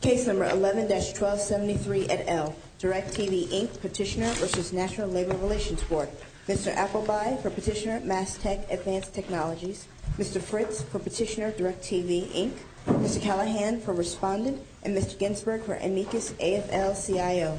Case No. 11-1273, et al. DirecTV, Inc. Petitioner v. National Labor Relations Board Mr. Appleby for Petitioner Mass Tech Advanced Technologies Mr. Fritz for Petitioner DirecTV, Inc. Mr. Callahan for Respondent and Mr. Ginsberg for Amicus AFL-CIO Case No. 11-1273, et al.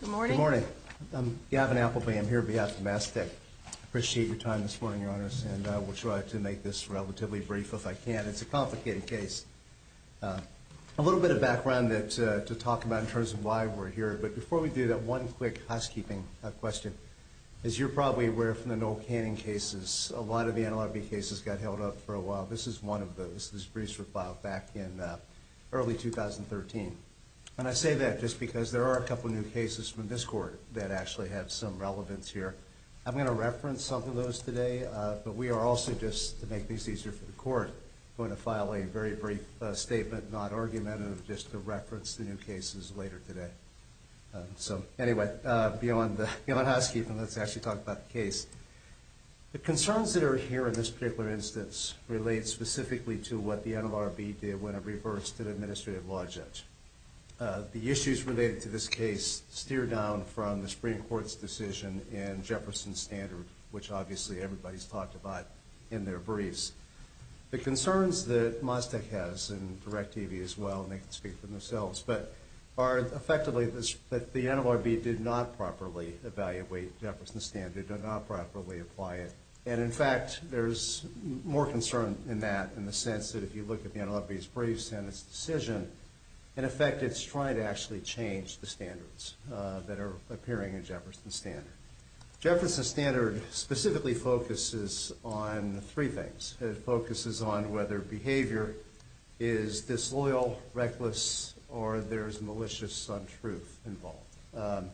Good morning. Good morning. I'm Gavin Appleby. I'm here on behalf of Mass Tech. I appreciate your time this morning, Your Honors, and I will try to make this relatively brief if I can. It's a complicated case. A little bit of background to talk about in terms of why we're here, but before we do that, one quick housekeeping question. As you're probably aware from the Noel Canning cases, a lot of the NLRB cases got held up for a while. This is one of those. This briefs were filed back in early 2013. And I say that just because there are a couple of new cases from this court that actually have some relevance here. I'm going to reference some of those today, but we are also just, to make things easier for the court, going to file a very brief statement, not argument, just to reference the new cases later today. So, anyway, beyond housekeeping, let's actually talk about the case. The concerns that are here in this particular instance relate specifically to what the NLRB did when it reversed an administrative law judge. The issues related to this case steer down from the Supreme Court's decision in Jefferson's standard, which obviously everybody's talked about in their briefs. The concerns that Mass Tech has, and Direct TV as well, and they can speak for themselves, are effectively that the NLRB did not properly evaluate Jefferson's standard and did not properly apply it. And, in fact, there's more concern in that in the sense that if you look at the NLRB's briefs and its decision, in effect it's trying to actually change the standards that are appearing in Jefferson's standard. Jefferson's standard specifically focuses on three things. It focuses on whether behavior is disloyal, reckless, or there's malicious untruth involved.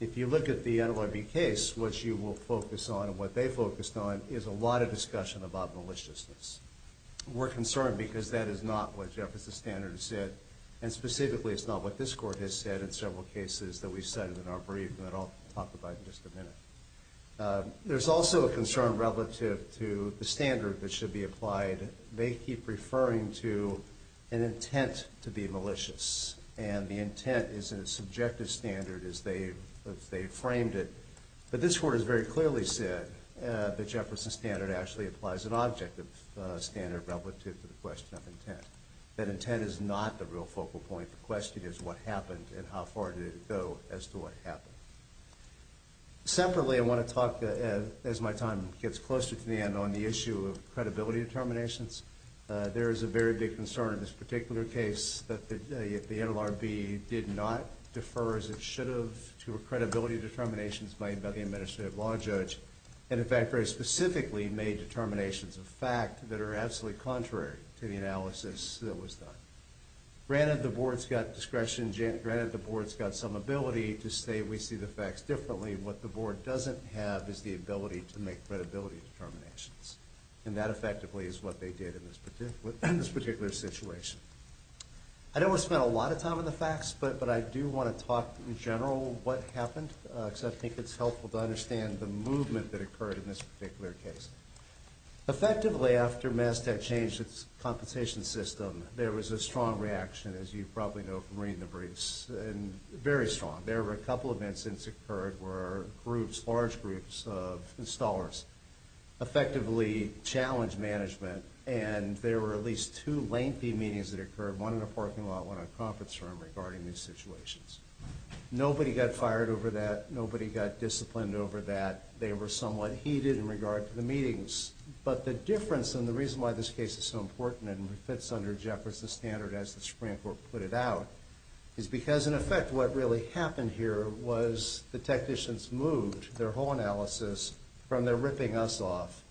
If you look at the NLRB case, what you will focus on and what they focused on is a lot of discussion about maliciousness. We're concerned because that is not what Jefferson's standard said, and specifically it's not what this Court has said in several cases that we've cited in our brief that I'll talk about in just a minute. There's also a concern relative to the standard that should be applied. They keep referring to an intent to be malicious, and the intent is a subjective standard as they framed it. But this Court has very clearly said that Jefferson's standard actually applies an objective standard relative to the question of intent, that intent is not the real focal point. The question is what happened and how far did it go as to what happened. Separately, I want to talk, as my time gets closer to the end, on the issue of credibility determinations. There is a very big concern in this particular case that the NLRB did not defer as it should have to credibility determinations made by the Administrative Law Judge, and in fact very specifically made determinations of fact that are absolutely contrary to the analysis that was done. Granted the Board's got discretion, granted the Board's got some ability to say we see the facts differently, what the Board doesn't have is the ability to make credibility determinations, and that effectively is what they did in this particular situation. I don't want to spend a lot of time on the facts, but I do want to talk in general what happened, because I think it's helpful to understand the movement that occurred in this particular case. Effectively, after Mass Tech changed its compensation system, there was a strong reaction, as you probably know from reading the briefs, and very strong. There were a couple of events that occurred where groups, large groups of installers, effectively challenged management, and there were at least two lengthy meetings that occurred, one in a parking lot, one at a conference room, regarding these situations. Nobody got fired over that. Nobody got disciplined over that. They were somewhat heated in regard to the meetings. But the difference, and the reason why this case is so important and fits under Jefferson's standard as the Supreme Court put it out, is because, in effect, what really happened here was the technicians moved their whole analysis from their ripping us off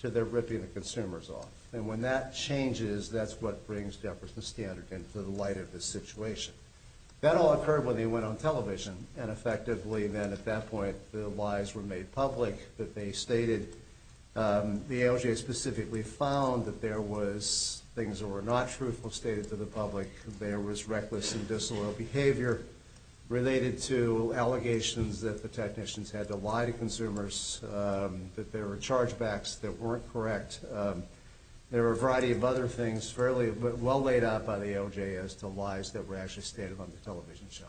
to their ripping the consumers off. And when that changes, that's what brings Jefferson's standard into the light of this situation. That all occurred when they went on television, and effectively then at that point the lies were made public, that they stated the AOJ specifically found that there was things that were not truthful stated to the public, that there was reckless and disloyal behavior related to allegations that the technicians had to lie to consumers, that there were chargebacks that weren't correct. There were a variety of other things fairly well laid out by the AOJ as to lies that were actually stated on the television show.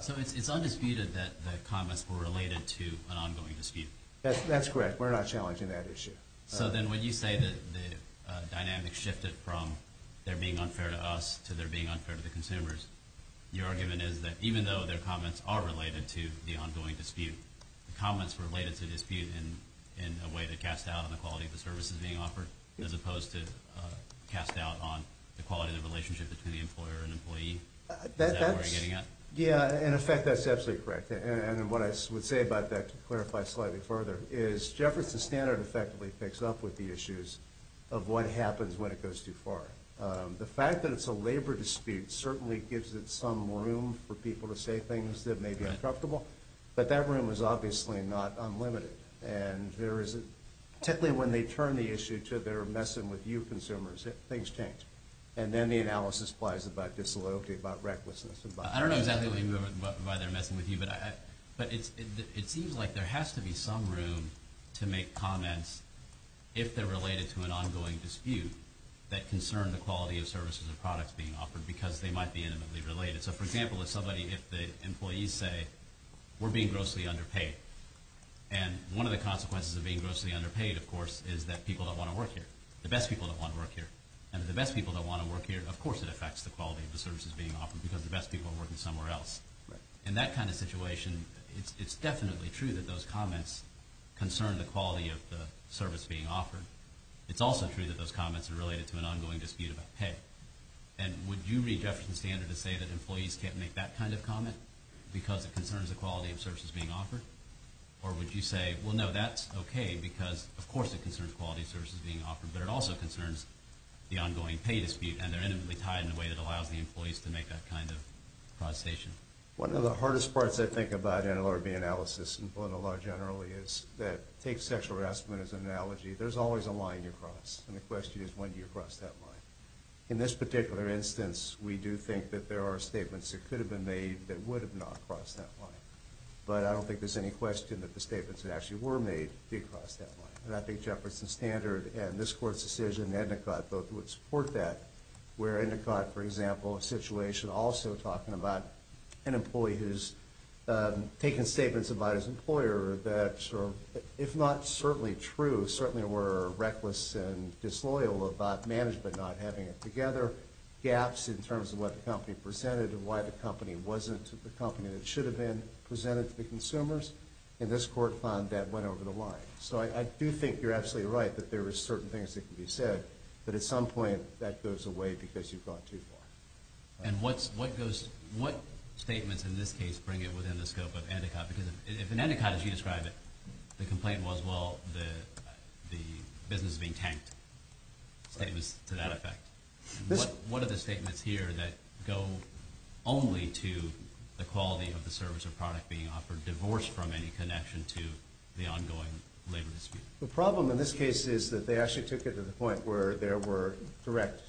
So it's undisputed that the comments were related to an ongoing dispute. That's correct. We're not challenging that issue. So then when you say that the dynamics shifted from their being unfair to us to their being unfair to the consumers, your argument is that even though their comments are related to the ongoing dispute, the comments were related to dispute in a way to cast doubt on the quality of the services being offered, as opposed to cast doubt on the quality of the relationship between the employer and employee? Is that where you're getting at? Yeah, in effect, that's absolutely correct. And what I would say about that, to clarify slightly further, is Jefferson Standard effectively picks up with the issues of what happens when it goes too far. The fact that it's a labor dispute certainly gives it some room for people to say things that may be uncomfortable, but that room is obviously not unlimited. And particularly when they turn the issue to they're messing with you consumers, things change. And then the analysis applies about disloyalty, about recklessness. I don't know exactly why they're messing with you, but it seems like there has to be some room to make comments if they're related to an ongoing dispute that concern the quality of services or products being offered because they might be intimately related. So, for example, if the employees say, we're being grossly underpaid, and one of the consequences of being grossly underpaid, of course, is that people don't want to work here, the best people don't want to work here. And if the best people don't want to work here, of course it affects the quality of the services being offered because the best people are working somewhere else. In that kind of situation, it's definitely true that those comments concern the quality of the service being offered. It's also true that those comments are related to an ongoing dispute about pay. And would you read Jefferson Standard to say that employees can't make that kind of comment because it concerns the quality of services being offered? Or would you say, well, no, that's okay because, of course, it concerns quality of services being offered, but it also concerns the ongoing pay dispute, and they're intimately tied in a way that allows the employees to make that kind of conversation? One of the hardest parts, I think, about NLRB analysis and political law generally is that it takes sexual harassment as an analogy. There's always a line you cross, and the question is, when do you cross that line? In this particular instance, we do think that there are statements that could have been made that would have not crossed that line. But I don't think there's any question that the statements that actually were made did cross that line. I think Jefferson Standard and this Court's decision and Endicott both would support that, where Endicott, for example, a situation also talking about an employee who's taken statements about his employer that, if not certainly true, certainly were reckless and disloyal about management not having it together, gaps in terms of what the company presented and why the company wasn't the company that it should have been, presented to the consumers, and this Court found that went over the line. So I do think you're absolutely right that there are certain things that can be said, but at some point that goes away because you've gone too far. And what statements in this case bring it within the scope of Endicott? Because if in Endicott, as you describe it, the complaint was, well, the business is being tanked, statements to that effect, what are the statements here that go only to the quality of the service or product being offered, divorced from any connection to the ongoing labor dispute? The problem in this case is that they actually took it to the point where there were direct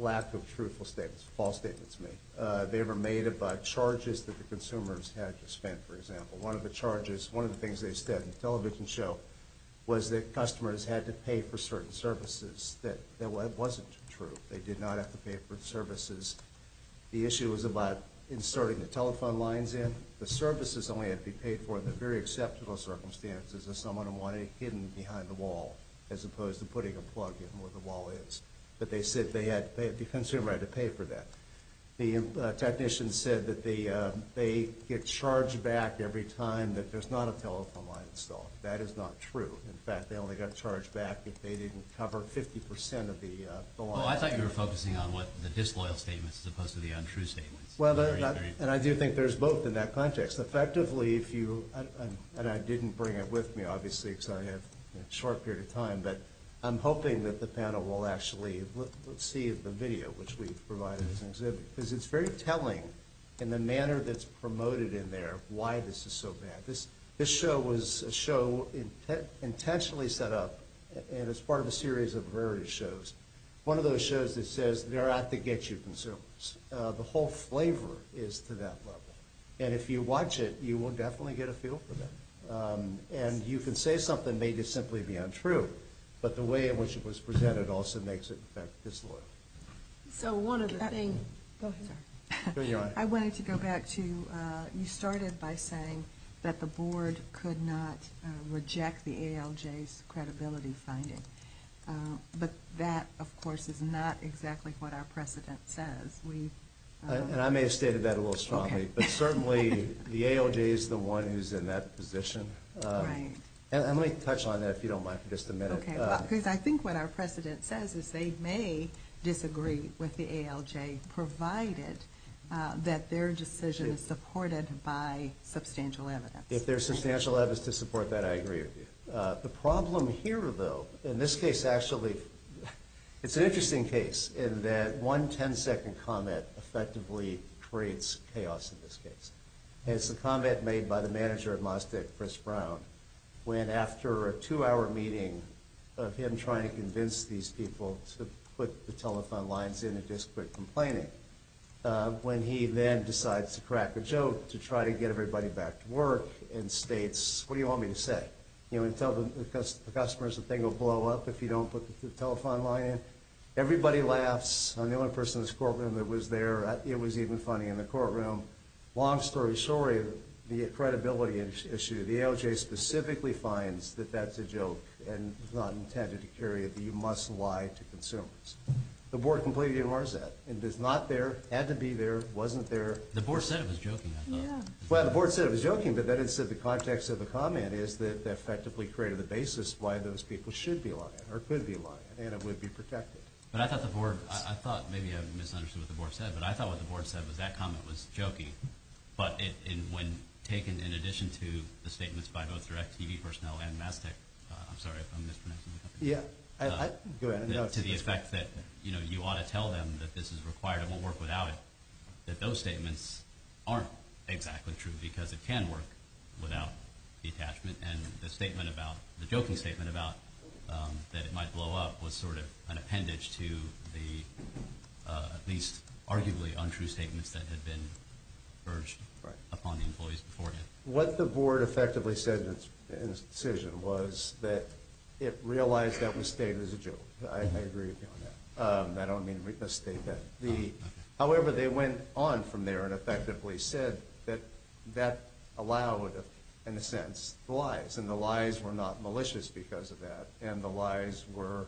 lack of truthful statements, false statements made. They were made about charges that the consumers had to spend, for example. One of the charges, one of the things they said in the television show, was that customers had to pay for certain services. That wasn't true. They did not have to pay for services. The issue was about inserting the telephone lines in. The services only had to be paid for in the very acceptable circumstances if someone wanted it hidden behind the wall as opposed to putting a plug in where the wall is. But they said they had the consumer right to pay for that. The technician said that they get charged back every time that there's not a telephone line installed. That is not true. In fact, they only got charged back if they didn't cover 50% of the line. Well, I thought you were focusing on the disloyal statements as opposed to the untrue statements. And I do think there's both in that context. Effectively, if you, and I didn't bring it with me, obviously, because I have a short period of time, but I'm hoping that the panel will actually see the video, which we've provided as an exhibit, because it's very telling in the manner that's promoted in there why this is so bad. This show was a show intentionally set up as part of a series of various shows. One of those shows that says they're out to get you consumers. The whole flavor is to that level. And if you watch it, you will definitely get a feel for that. And you can say something may just simply be untrue, but the way in which it was presented also makes it, in fact, disloyal. So one of the things... Go ahead. I wanted to go back to, you started by saying that the board could not reject the ALJ's credibility finding. But that, of course, is not exactly what our precedent says. And I may have stated that a little strongly, but certainly the ALJ is the one who's in that position. And let me touch on that, if you don't mind, for just a minute. Because I think what our precedent says is they may disagree with the ALJ, provided that their decision is supported by substantial evidence. If there's substantial evidence to support that, I agree with you. The problem here, though, in this case, actually, it's an interesting case in that one ten-second comment effectively creates chaos in this case. It's a comment made by the manager of MozTech, Chris Brown, when after a two-hour meeting of him trying to convince these people to put the telephone lines in and just quit complaining, when he then decides to crack a joke to try to get everybody back to work and states, what do you want me to say? You know, and tell the customers the thing will blow up if you don't put the telephone line in. Everybody laughs. I'm the only person in this courtroom that was there. It was even funny in the courtroom. Long story short, the credibility issue, the ALJ specifically finds that that's a joke and was not intended to carry it, that you must lie to consumers. The board completely ignores that. It is not there, had to be there, wasn't there. The board said it was joking, I thought. Well, the board said it was joking, but then it said the context of the comment is that it effectively created the basis why those people should be lying or could be lying, and it would be protected. But I thought the board, I thought maybe I misunderstood what the board said, but I thought what the board said was that comment was jokey, but when taken in addition to the statements by both direct TV personnel and MazTech, I'm sorry if I'm mispronouncing the company. Yeah, go ahead. To the effect that, you know, you ought to tell them that this is required and won't work without it, that those statements aren't exactly true because it can work without the attachment and the statement about, the joking statement about that it might blow up was sort of an appendage to the at least arguably untrue statements that had been urged upon the employees beforehand. What the board effectively said in its decision was that it realized that was stated as a joke. I agree with you on that. I don't mean to misstate that. However, they went on from there and effectively said that that allowed, in a sense, lies, and the lies were not malicious because of that, and the lies were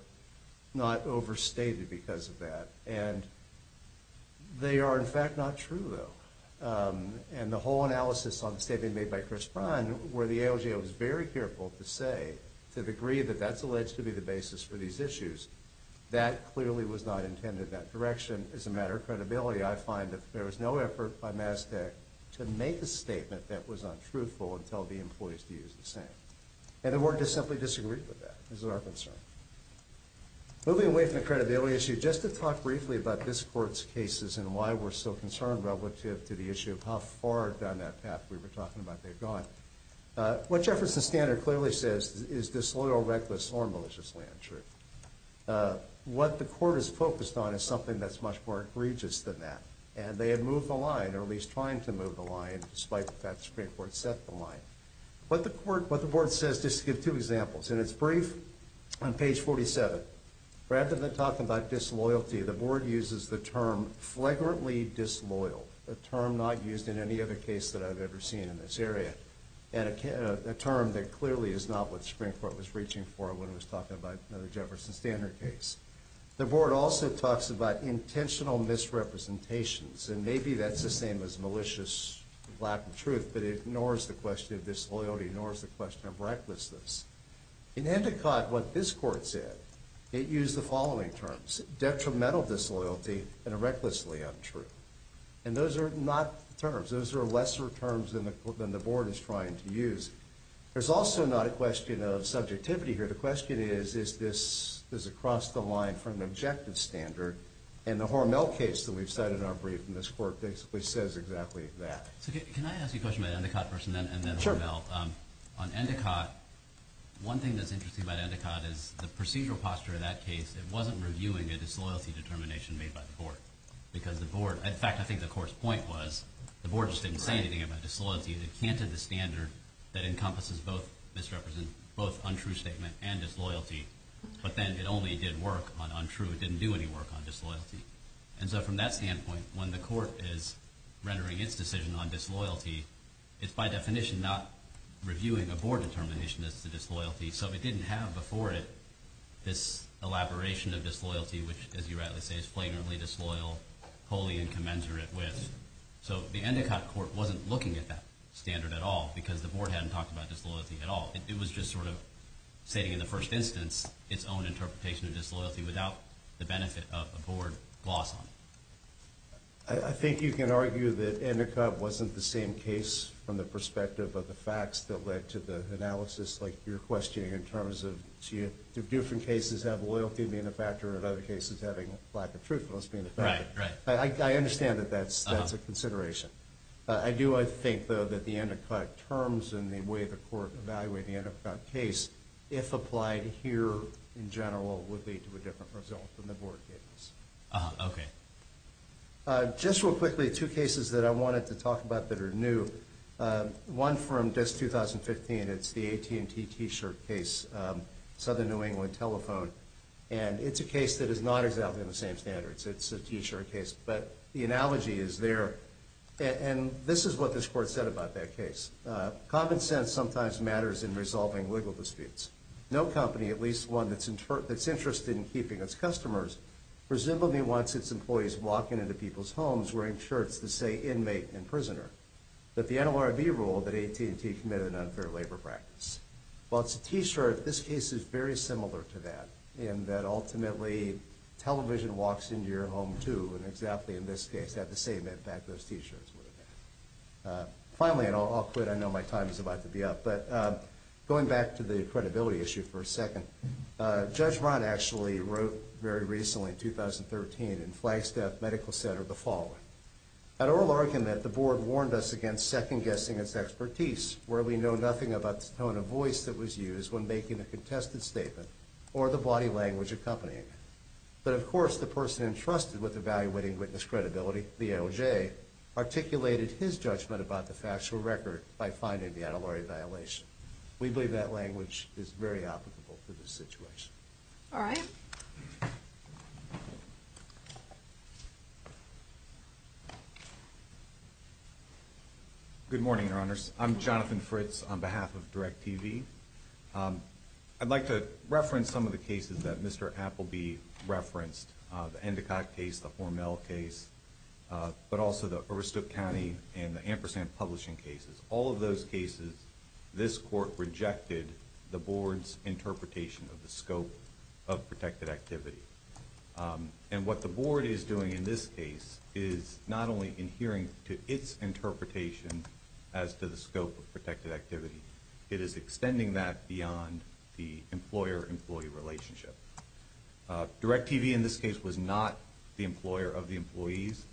not overstated because of that. And they are, in fact, not true, though. And the whole analysis on the statement made by Chris Bryan, where the AOGA was very careful to say, to the degree that that's alleged to be the basis for these issues, that clearly was not intended in that direction. As a matter of credibility, I find that there was no effort by Mazda to make a statement that was untruthful and tell the employees to use the same. And the board just simply disagreed with that. This is our concern. Moving away from the credibility issue, just to talk briefly about this Court's cases and why we're so concerned relative to the issue of how far down that path we were talking about they've gone, what Jefferson's standard clearly says is disloyal, reckless, or maliciously untrue. What the Court is focused on is something that's much more egregious than that. And they had moved the line, or at least trying to move the line, despite the fact that the Supreme Court set the line. What the Board says, just to give two examples, and it's brief, on page 47. Rather than talk about disloyalty, the Board uses the term flagrantly disloyal, a term not used in any other case that I've ever seen in this area, and a term that clearly is not what the Supreme Court was reaching for when it was talking about the Jefferson standard case. The Board also talks about intentional misrepresentations, and maybe that's the same as malicious lack of truth, but it ignores the question of disloyalty, ignores the question of recklessness. In Endicott, what this Court said, it used the following terms, detrimental disloyalty and a recklessly untrue. And those are not terms. Those are lesser terms than the Board is trying to use. There's also not a question of subjectivity here. The question is, is this across the line from the objective standard? And the Hormel case that we've cited in our brief in this Court basically says exactly that. So can I ask you a question about Endicott first and then Hormel? Sure. On Endicott, one thing that's interesting about Endicott is the procedural posture of that case, it wasn't reviewing a disloyalty determination made by the Board. Because the Board, in fact, I think the Court's point was the Board just didn't say anything about disloyalty, and it canted the standard that encompasses both untrue statement and disloyalty, but then it only did work on untrue, it didn't do any work on disloyalty. And so from that standpoint, when the Court is rendering its decision on disloyalty, it's by definition not reviewing a Board determination as to disloyalty. So it didn't have before it this elaboration of disloyalty, which, as you rightly say, is flagrantly disloyal, wholly incommensurate with. So the Endicott Court wasn't looking at that standard at all, because the Board hadn't talked about disloyalty at all. It was just sort of stating in the first instance its own interpretation of disloyalty without the benefit of a Board gloss on it. I think you can argue that Endicott wasn't the same case from the perspective of the facts that led to the analysis like you're questioning in terms of, do different cases have loyalty being a factor and other cases having lack of truthfulness being a factor? Right, right. I understand that that's a consideration. I do, I think, though, that the Endicott terms and the way the Court evaluated the Endicott case, if applied here in general, would lead to a different result than the Board case. Okay. Just real quickly, two cases that I wanted to talk about that are new. One from just 2015, it's the AT&T t-shirt case, Southern New England Telephone, and it's a case that is not exactly on the same standards. It's a t-shirt case. But the analogy is there, and this is what this Court said about that case. Common sense sometimes matters in resolving legal disputes. No company, at least one that's interested in keeping its customers, presumably wants its employees walking into people's homes wearing shirts that say inmate and prisoner. But the NLRB ruled that AT&T committed an unfair labor practice. While it's a t-shirt, this case is very similar to that, in that ultimately television walks into your home too, and exactly in this case had the same impact those t-shirts would have had. Finally, and I'll quit. I know my time is about to be up. But going back to the credibility issue for a second, Judge Rahn actually wrote very recently, in 2013, in Flagstaff Medical Center the following. At oral argument, the Board warned us against second-guessing its expertise, where we know nothing about the tone of voice that was used when making a contested statement or the body language accompanying it. But of course, the person entrusted with evaluating witness credibility, the ALJ, articulated his judgment about the factual record by finding the NLRB violation. We believe that language is very applicable for this situation. All right. Good morning, Your Honors. I'm Jonathan Fritz on behalf of DIRECTV. I'd like to reference some of the cases that Mr. Appleby referenced, the Endicott case, the Hormel case, but also the Overstook County and the Ampersand Publishing cases. All of those cases, this Court rejected the Board's interpretation of the scope of protected activity. And what the Board is doing in this case is not only adhering to its interpretation as to the scope of protected activity, it is extending that beyond the employer-employee relationship. DIRECTV in this case was not the employer of the employees.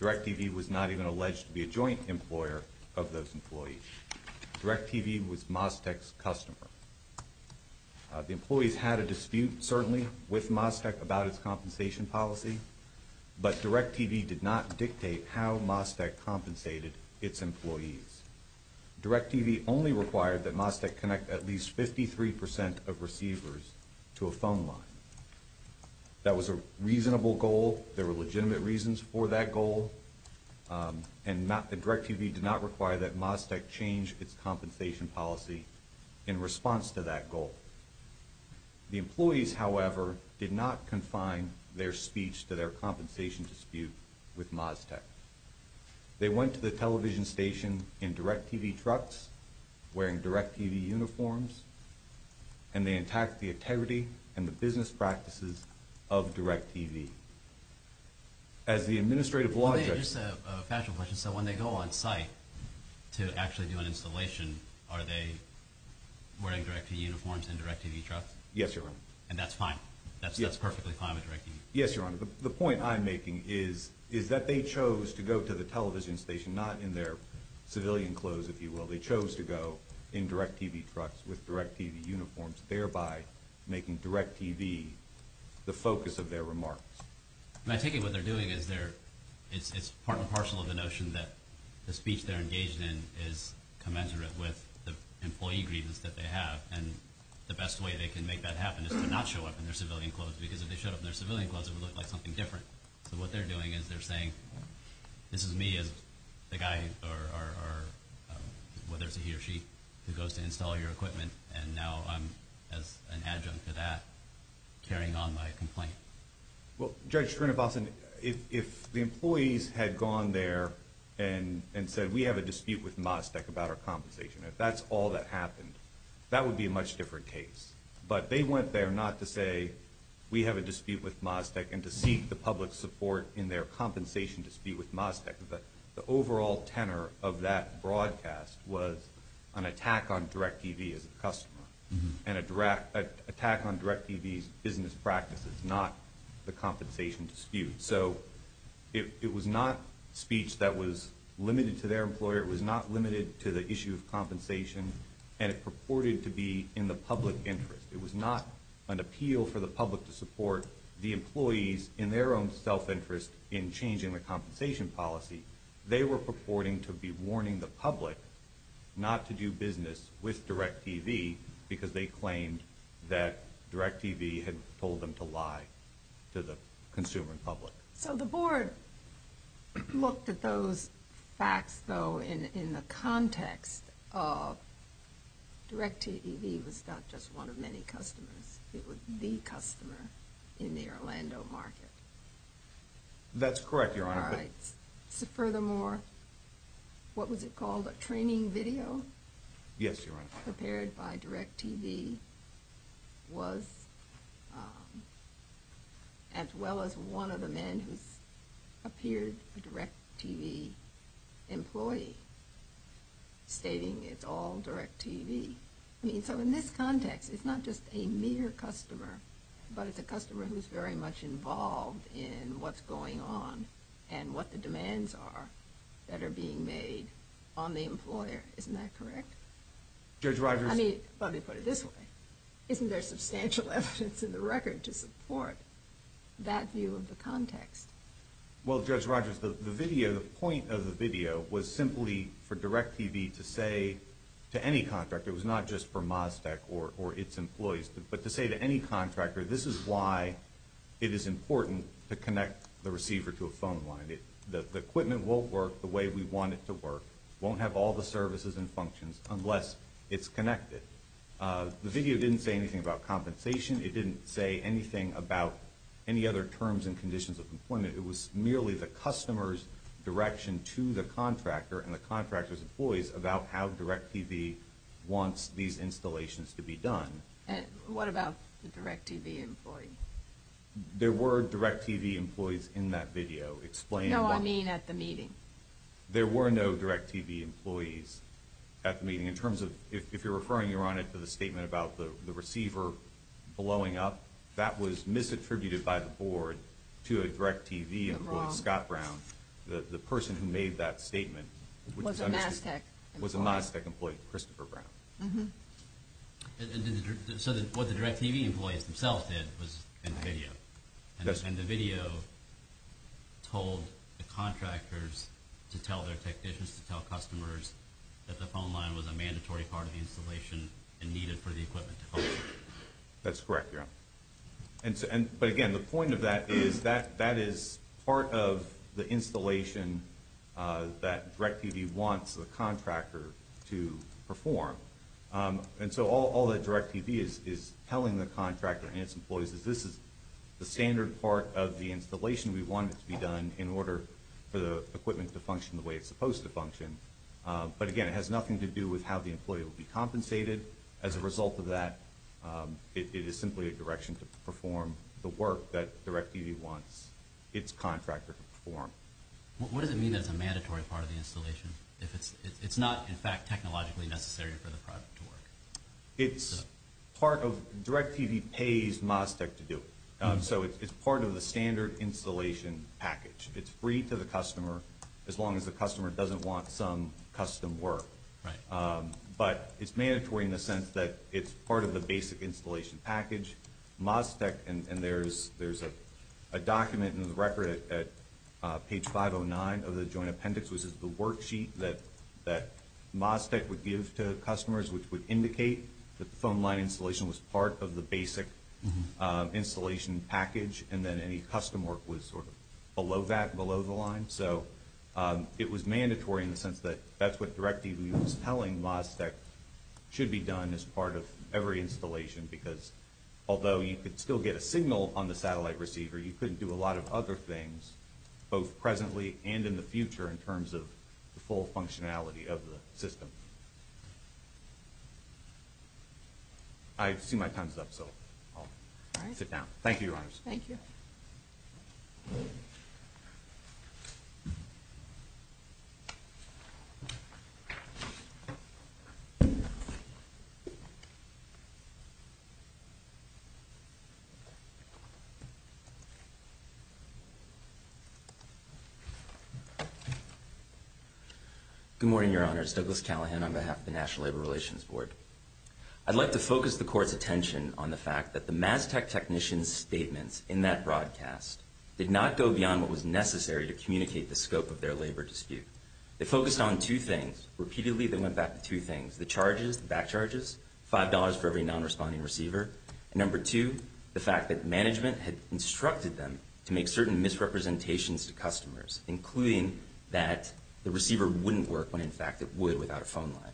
DIRECTV was not even alleged to be a joint employer of those employees. DIRECTV was Mostek's customer. The employees had a dispute, certainly, with Mostek about its compensation policy, but DIRECTV did not dictate how Mostek compensated its employees. DIRECTV only required that Mostek connect at least 53% of receivers to a phone line. That was a reasonable goal. There were legitimate reasons for that goal, and DIRECTV did not require that Mostek change its compensation policy in response to that goal. The employees, however, did not confine their speech to their compensation dispute with Mostek. They went to the television station in DIRECTV trucks, wearing DIRECTV uniforms, and they attacked the integrity and the business practices of DIRECTV. As the administrative logic... Just a fashion question. So when they go on site to actually do an installation, are they wearing DIRECTV uniforms in DIRECTV trucks? Yes, Your Honor. And that's fine? That's perfectly fine with DIRECTV? Yes, Your Honor. The point I'm making is that they chose to go to the television station not in their civilian clothes, if you will. They chose to go in DIRECTV trucks with DIRECTV uniforms, thereby making DIRECTV the focus of their remarks. I take it what they're doing is part and parcel of the notion that the speech they're engaged in is commensurate with the employee grievance that they have, and the best way they can make that happen is to not show up in their civilian clothes, because if they showed up in their civilian clothes, it would look like something different. So what they're doing is they're saying, this is me as the guy or whether it's he or she who goes to install your equipment, and now I'm, as an adjunct to that, carrying on my complaint. Well, Judge Srinivasan, if the employees had gone there and said, we have a dispute with Mosdek about our compensation, if that's all that happened, that would be a much different case. But they went there not to say, we have a dispute with Mosdek, and to seek the public's support in their compensation dispute with Mosdek. The overall tenor of that broadcast was an attack on DIRECTV as a customer and an attack on DIRECTV's business practices, not the compensation dispute. So it was not speech that was limited to their employer. It was not limited to the issue of compensation, and it purported to be in the public interest. It was not an appeal for the public to support the employees in their own self-interest in changing the compensation policy. They were purporting to be warning the public not to do business with DIRECTV because they claimed that DIRECTV had told them to lie to the consumer and public. So the board looked at those facts, though, in the context of DIRECTV was not just one of many customers. It was the customer in the Orlando market. That's correct, Your Honor. Furthermore, what was it called, a training video? Yes, Your Honor. The customer prepared by DIRECTV was as well as one of the men who appeared a DIRECTV employee stating it's all DIRECTV. So in this context, it's not just a mere customer, but it's a customer who's very much involved in what's going on and what the demands are that are being made on the employer. Isn't that correct? Judge Rogers. I mean, let me put it this way. Isn't there substantial evidence in the record to support that view of the context? Well, Judge Rogers, the video, the point of the video, was simply for DIRECTV to say to any contractor, it was not just for Mazda or its employees, but to say to any contractor, this is why it is important to connect the receiver to a phone line. The equipment won't work the way we want it to work, won't have all the services and functions unless it's connected. The video didn't say anything about compensation. It didn't say anything about any other terms and conditions of employment. It was merely the customer's direction to the contractor and the contractor's employees about how DIRECTV wants these installations to be done. What about the DIRECTV employee? There were DIRECTV employees in that video. No, I mean at the meeting. There were no DIRECTV employees at the meeting. If you're referring, Your Honor, to the statement about the receiver blowing up, that was misattributed by the board to a DIRECTV employee, Scott Brown. The person who made that statement was a Mazda employee, Christopher Brown. So what the DIRECTV employees themselves did was in the video, and the video told the contractors to tell their technicians, to tell customers, that the phone line was a mandatory part of the installation and needed for the equipment to function. That's correct, Your Honor. But again, the point of that is that that is part of the installation that DIRECTV wants the contractor to perform. And so all that DIRECTV is telling the contractor and its employees is this is the standard part of the installation we want it to be done in order for the equipment to function the way it's supposed to function. But again, it has nothing to do with how the employee will be compensated. As a result of that, it is simply a direction to perform the work that DIRECTV wants its contractor to perform. What does it mean that it's a mandatory part of the installation if it's not, in fact, technologically necessary for the product to work? It's part of—DIRECTV pays Mazda Tech to do it. So it's part of the standard installation package. It's free to the customer as long as the customer doesn't want some custom work. But it's mandatory in the sense that it's part of the basic installation package. Mazda Tech—and there's a document in the record at page 509 of the joint appendix, which is the worksheet that Mazda Tech would give to customers which would indicate that the phone line installation was part of the basic installation package and that any custom work was sort of below that, below the line. So it was mandatory in the sense that that's what DIRECTV was telling Mazda Tech that should be done as part of every installation because although you could still get a signal on the satellite receiver, you couldn't do a lot of other things both presently and in the future in terms of the full functionality of the system. I see my time's up, so I'll sit down. Thank you, Your Honors. Thank you. Good morning, Your Honors. Douglas Callahan on behalf of the National Labor Relations Board. I'd like to focus the Court's attention on the fact that the Mazda Tech technicians' statements in that broadcast did not go beyond what was necessary to communicate the scope of their labor dispute. They focused on two things. Repeatedly, they went back to two things, the charges, the back charges, $5 for every non-responding receiver, and number two, the fact that management had instructed them to make certain misrepresentations to customers, including that the receiver wouldn't work when in fact it would without a phone line.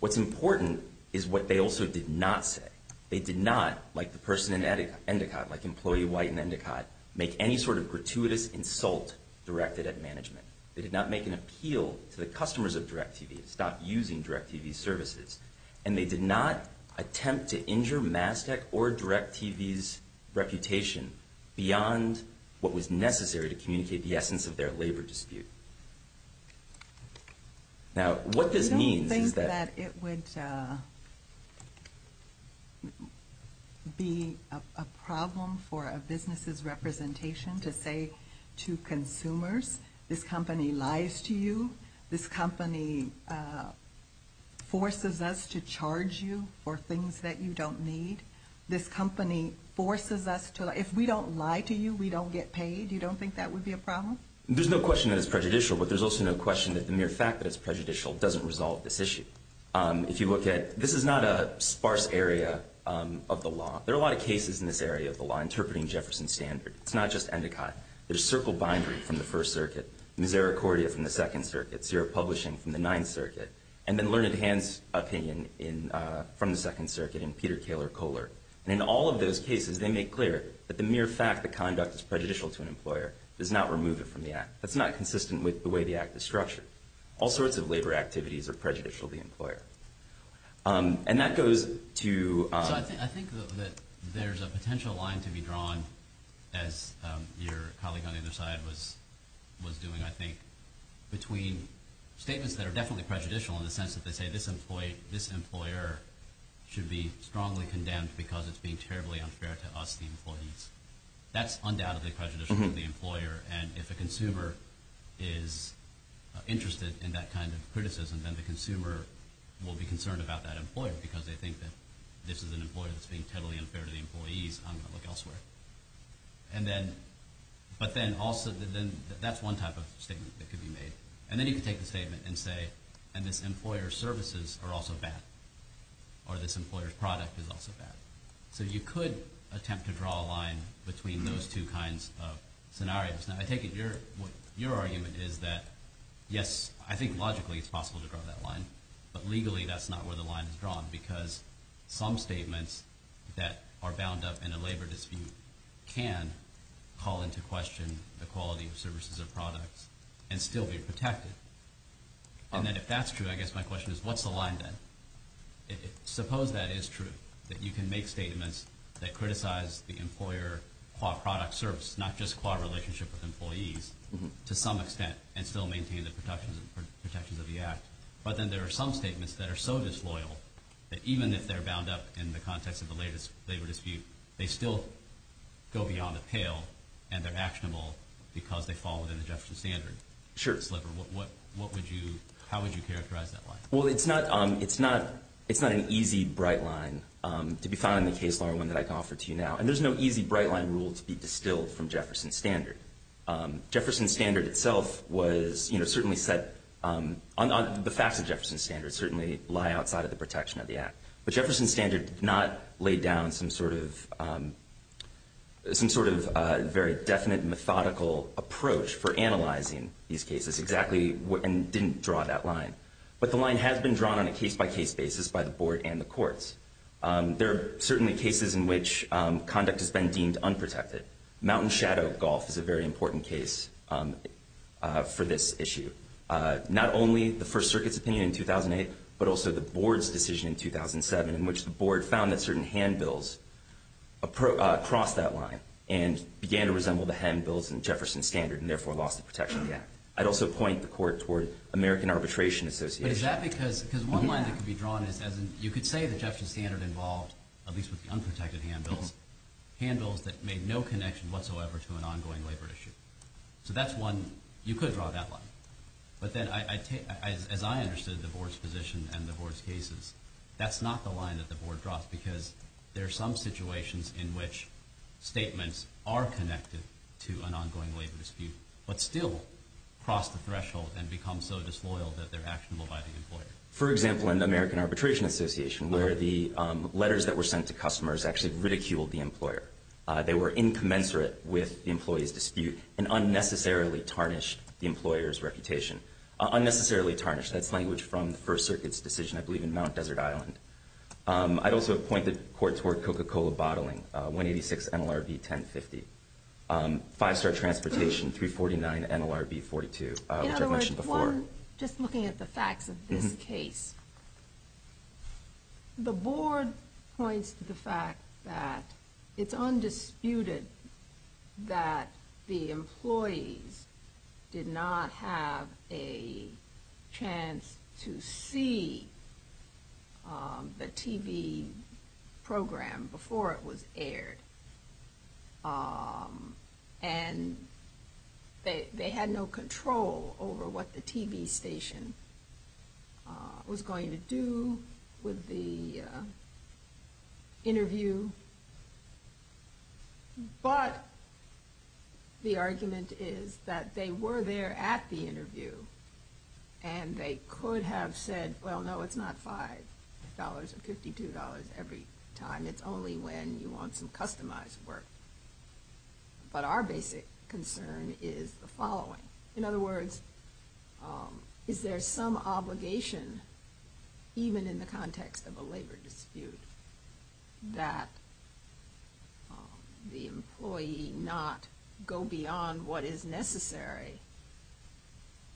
What's important is what they also did not say. They did not, like the person in Endicott, like employee White in Endicott, make any sort of gratuitous insult directed at management. They did not make an appeal to the customers of DirecTV to stop using DirecTV's services, and they did not attempt to injure Mazda Tech or DirecTV's reputation beyond what was necessary to communicate the essence of their labor dispute. Now, what this means is that- I don't think that it would be a problem for a business's representation to say to consumers, this company lies to you, this company forces us to charge you for things that you don't need, this company forces us to-if we don't lie to you, we don't get paid. You don't think that would be a problem? There's no question that it's prejudicial, but there's also no question that the mere fact that it's prejudicial doesn't resolve this issue. If you look at-this is not a sparse area of the law. There are a lot of cases in this area of the law interpreting Jefferson's standard. It's not just Endicott. There's Circle Bindery from the First Circuit, Misericordia from the Second Circuit, Sierra Publishing from the Ninth Circuit, and then Learned Hand's opinion from the Second Circuit and Peter Koehler. And in all of those cases, they make clear that the mere fact that conduct is prejudicial to an employer does not remove it from the act. That's not consistent with the way the act is structured. All sorts of labor activities are prejudicial to the employer. And that goes to- So I think that there's a potential line to be drawn, as your colleague on the other side was doing, I think, between statements that are definitely prejudicial in the sense that they say, this employer should be strongly condemned because it's being terribly unfair to us, the employees. That's undoubtedly prejudicial to the employer, and if a consumer is interested in that kind of criticism, then the consumer will be concerned about that employer because they think that this is an employer that's being terribly unfair to the employees. I'm going to look elsewhere. But then also, that's one type of statement that could be made. And then you could take the statement and say, and this employer's services are also bad, or this employer's product is also bad. So you could attempt to draw a line between those two kinds of scenarios. Now I take it your argument is that, yes, I think logically it's possible to draw that line, but legally that's not where the line is drawn because some statements that are bound up in a labor dispute can call into question the quality of services or products and still be protected. And then if that's true, I guess my question is, what's the line then? Suppose that is true, that you can make statements that criticize the employer-quad product-service, not just quad relationship with employees, to some extent, and still maintain the protections of the Act. But then there are some statements that are so disloyal that even if they're bound up in the context of a labor dispute, they still go beyond the pale and they're actionable because they fall within the Jefferson Standard sliver. How would you characterize that line? Well, it's not an easy bright line to be found in the case law or one that I can offer to you now. And there's no easy bright line rule to be distilled from Jefferson Standard. Jefferson Standard itself was certainly set on the facts of Jefferson Standard, certainly lie outside of the protection of the Act. But Jefferson Standard did not lay down some sort of very definite methodical approach for analyzing these cases and didn't draw that line. But the line has been drawn on a case-by-case basis by the board and the courts. There are certainly cases in which conduct has been deemed unprotected. Mountain Shadow Golf is a very important case for this issue. Not only the First Circuit's opinion in 2008 but also the board's decision in 2007 in which the board found that certain handbills crossed that line and began to resemble the handbills in Jefferson Standard and therefore lost the protection of the Act. I'd also point the court toward American Arbitration Association. But is that because one line that could be drawn is as in you could say that Jefferson Standard involved, at least with the unprotected handbills, handbills that made no connection whatsoever to an ongoing labor issue. So that's one. You could draw that line. But then as I understood the board's position and the board's cases, that's not the line that the board draws because there are some situations in which statements are connected to an ongoing labor dispute but still cross the threshold and become so disloyal that they're actionable by the employer. For example, in the American Arbitration Association where the letters that were sent to customers actually ridiculed the employer. They were incommensurate with the employee's dispute and unnecessarily tarnished the employer's reputation. Unnecessarily tarnished. That's language from the First Circuit's decision, I believe, in Mount Desert Island. I'd also point the court toward Coca-Cola bottling, 186 NLRB 1050. Five-star transportation, 349 NLRB 42, which I've mentioned before. Just looking at the facts of this case, the board points to the fact that it's undisputed that the employees did not have a chance to see the TV program before it was aired. And they had no control over what the TV station was going to do with the interview. But the argument is that they were there at the interview and they could have said, well, no, it's not $5 or $52 every time. It's only when you want some customized work. But our basic concern is the following. In other words, is there some obligation, even in the context of a labor dispute, that the employee not go beyond what is necessary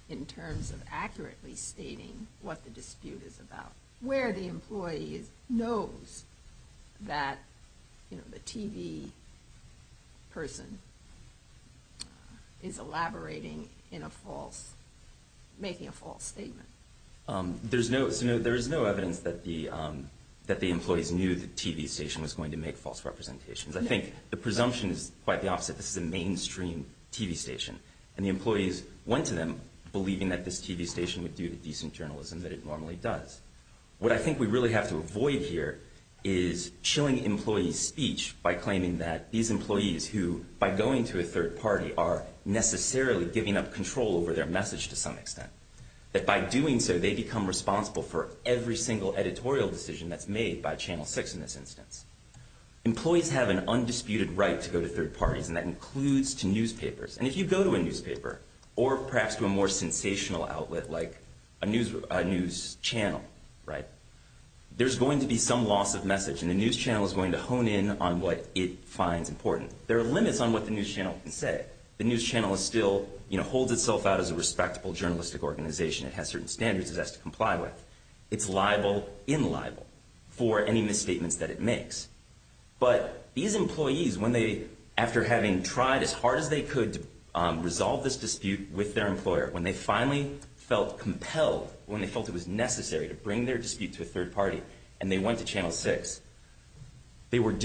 in terms of accurately stating what the dispute is about, where the employee knows that the TV person is elaborating in a false, making a false statement? There is no evidence that the employees knew the TV station was going to make false representations. I think the presumption is quite the opposite. This is a mainstream TV station. And the employees went to them believing that this TV station would do the decent journalism that it normally does. What I think we really have to avoid here is chilling employees' speech by claiming that these employees who, by going to a third party, are necessarily giving up control over their message to some extent. That by doing so, they become responsible for every single editorial decision that's made by Channel 6 in this instance. Employees have an undisputed right to go to third parties, and that includes to newspapers. And if you go to a newspaper, or perhaps to a more sensational outlet like a news channel, there's going to be some loss of message, and the news channel is going to hone in on what it finds important. There are limits on what the news channel can say. The news channel still holds itself out as a respectable journalistic organization. It has certain standards it has to comply with. It's liable, unliable, for any misstatements that it makes. But these employees, after having tried as hard as they could to resolve this dispute with their employer, when they finally felt compelled, when they felt it was necessary to bring their dispute to a third party, and they went to Channel 6, there was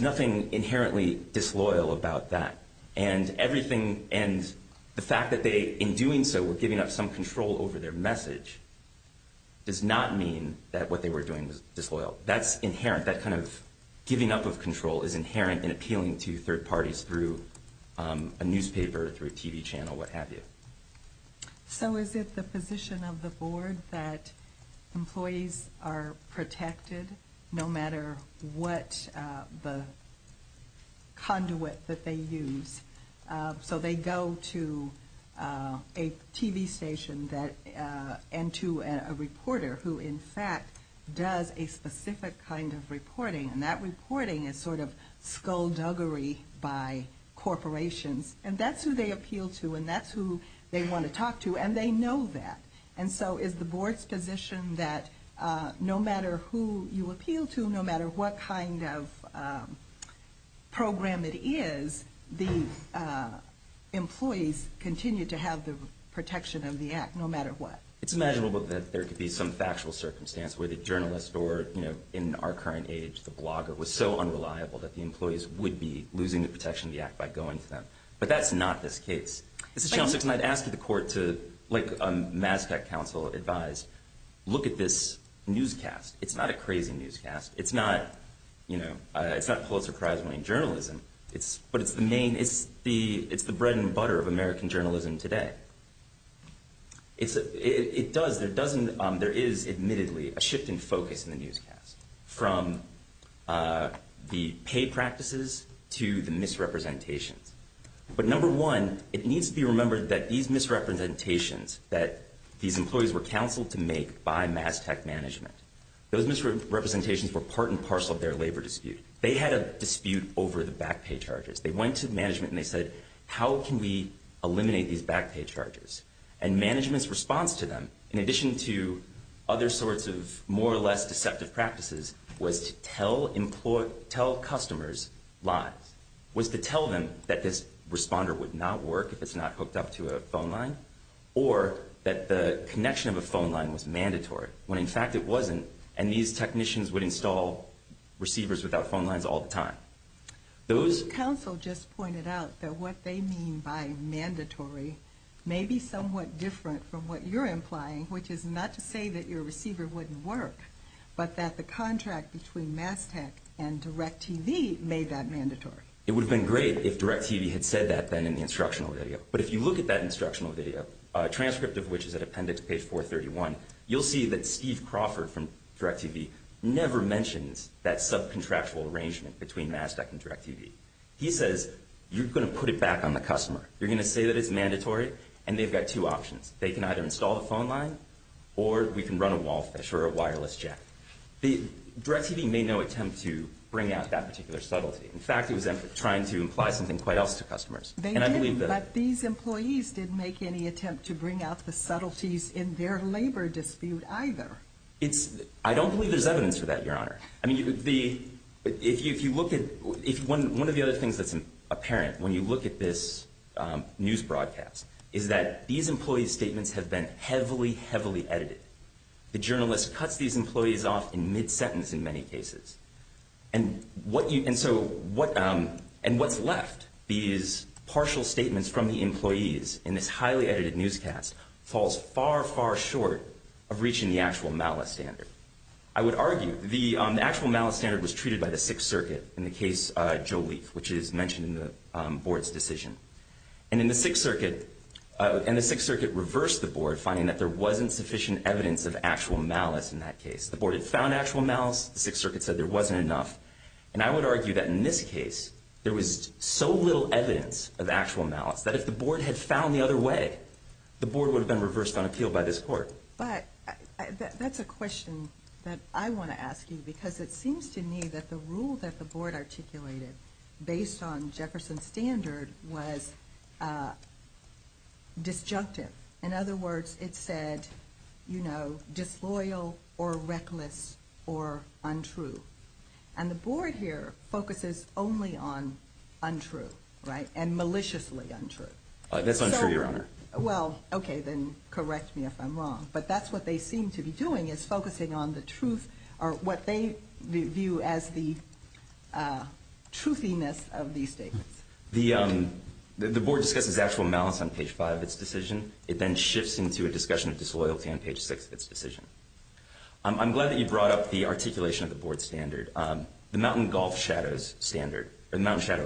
nothing inherently disloyal about that. And the fact that they, in doing so, were giving up some control over their message, does not mean that what they were doing was disloyal. That's inherent. That kind of giving up of control is inherent in appealing to third parties through a newspaper, through a TV channel, what have you. So is it the position of the board that employees are protected no matter what the conduit that they use? So they go to a TV station and to a reporter who, in fact, does a specific kind of reporting, and that reporting is sort of skullduggery by corporations. And that's who they appeal to, and that's who they want to talk to, and they know that. And so is the board's position that no matter who you appeal to, no matter what kind of program it is, the employees continue to have the protection of the Act, no matter what? It's imaginable that there could be some factual circumstance where the journalist or, you know, in our current age, the blogger was so unreliable that the employees would be losing the protection of the Act by going to them. But that's not this case. This is Channel 6, and I'd ask the court to, like a Mass Tech Council advised, look at this newscast. It's not a crazy newscast. It's not, you know, it's not Pulitzer Prize-winning journalism, but it's the bread and butter of American journalism today. It does, there doesn't, there is admittedly a shift in focus in the newscast from the pay practices to the misrepresentations. But number one, it needs to be remembered that these misrepresentations that these employees were counseled to make by Mass Tech management, those misrepresentations were part and parcel of their labor dispute. They had a dispute over the back pay charges. They went to management and they said, how can we eliminate these back pay charges? And management's response to them, in addition to other sorts of more or less deceptive practices, was to tell customers lies, was to tell them that this responder would not work if it's not hooked up to a phone line, or that the connection of a phone line was mandatory, when in fact it wasn't, and these technicians would install receivers without phone lines all the time. Those... The counsel just pointed out that what they mean by mandatory may be somewhat different from what you're implying, which is not to say that your receiver wouldn't work, but that the contract between Mass Tech and DirecTV made that mandatory. It would have been great if DirecTV had said that then in the instructional video. But if you look at that instructional video, a transcript of which is at appendix page 431, you'll see that Steve Crawford from DirecTV never mentions that subcontractual arrangement between Mass Tech and DirecTV. He says, you're going to put it back on the customer. You're going to say that it's mandatory, and they've got two options. They can either install the phone line, or we can run a wall fish or a wireless jack. The... DirecTV made no attempt to bring out that particular subtlety. In fact, it was trying to imply something quite else to customers. And I believe that... It's... I don't believe there's evidence for that, Your Honor. I mean, the... If you look at... One of the other things that's apparent when you look at this news broadcast is that these employees' statements have been heavily, heavily edited. The journalist cuts these employees off in mid-sentence in many cases. And what you... And so what... And what's left, these partial statements from the employees in this highly edited newscast, falls far, far short of reaching the actual malice standard. I would argue the actual malice standard was treated by the Sixth Circuit in the case Joe Leaf, which is mentioned in the board's decision. And in the Sixth Circuit... And the Sixth Circuit reversed the board, finding that there wasn't sufficient evidence of actual malice in that case. The board had found actual malice. The Sixth Circuit said there wasn't enough. And I would argue that in this case, there was so little evidence of actual malice that if the board had found the other way, the board would have been reversed on appeal by this court. But that's a question that I want to ask you because it seems to me that the rule that the board articulated based on Jefferson's standard was disjunctive. In other words, it said, you know, disloyal or reckless or untrue. And the board here focuses only on untrue, right, and maliciously untrue. That's untrue, Your Honor. Well, okay, then correct me if I'm wrong. But that's what they seem to be doing is focusing on the truth or what they view as the truthiness of these statements. The board discusses actual malice on page 5 of its decision. It then shifts into a discussion of disloyalty on page 6 of its decision. I'm glad that you brought up the articulation of the board's standard, the Mountain Shadow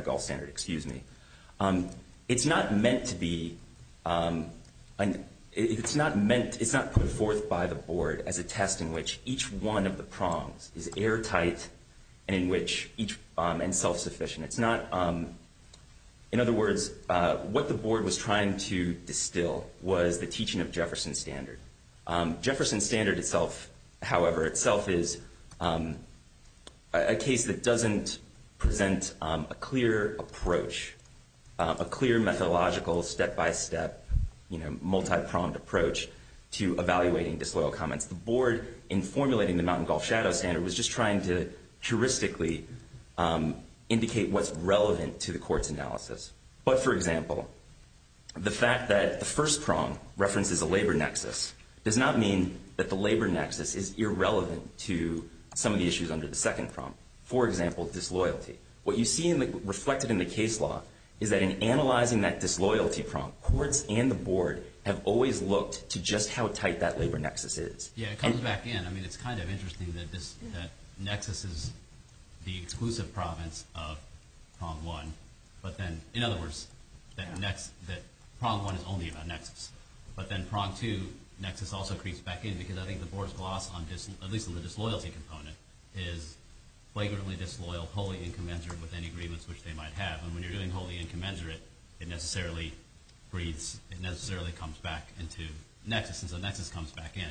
Golf Standard. It's not put forth by the board as a test in which each one of the prongs is airtight and self-sufficient. It's not, in other words, what the board was trying to distill was the teaching of Jefferson's standard. Jefferson's standard itself, however, itself is a case that doesn't present a clear approach, a clear methodological step-by-step, you know, multi-pronged approach to evaluating disloyal comments. The board, in formulating the Mountain Golf Shadow Standard, was just trying to heuristically indicate what's relevant to the court's analysis. But, for example, the fact that the first prong references a labor nexus does not mean that the labor nexus is irrelevant to some of the issues under the second prong. For example, disloyalty. What you see reflected in the case law is that in analyzing that disloyalty prong, courts and the board have always looked to just how tight that labor nexus is. Yeah, it comes back in. I mean, it's kind of interesting that nexus is the exclusive province of prong one, but then, in other words, that prong one is only about nexus. But then, prong two, nexus also creeps back in because I think the board's gloss, at least on the disloyalty component, is flagrantly disloyal, wholly incommensurate with any agreements which they might have. And when you're doing wholly incommensurate, it necessarily comes back into nexus, and so nexus comes back in.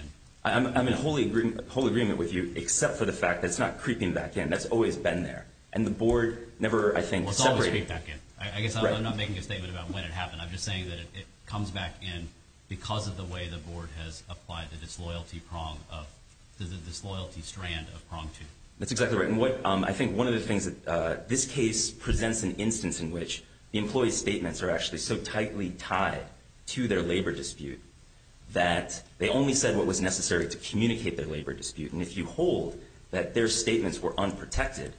I'm in whole agreement with you, except for the fact that it's not creeping back in. That's always been there. And the board never, I think, separated it. Well, it's always creeped back in. I guess I'm not making a statement about when it happened. I'm just saying that it comes back in because of the way the board has applied the disloyalty prong of the disloyalty strand of prong two. That's exactly right. And I think one of the things that this case presents an instance in which the employee's statements are actually so tightly tied to their labor dispute that they only said what was necessary to communicate their labor dispute. And if you hold that their statements were unprotected,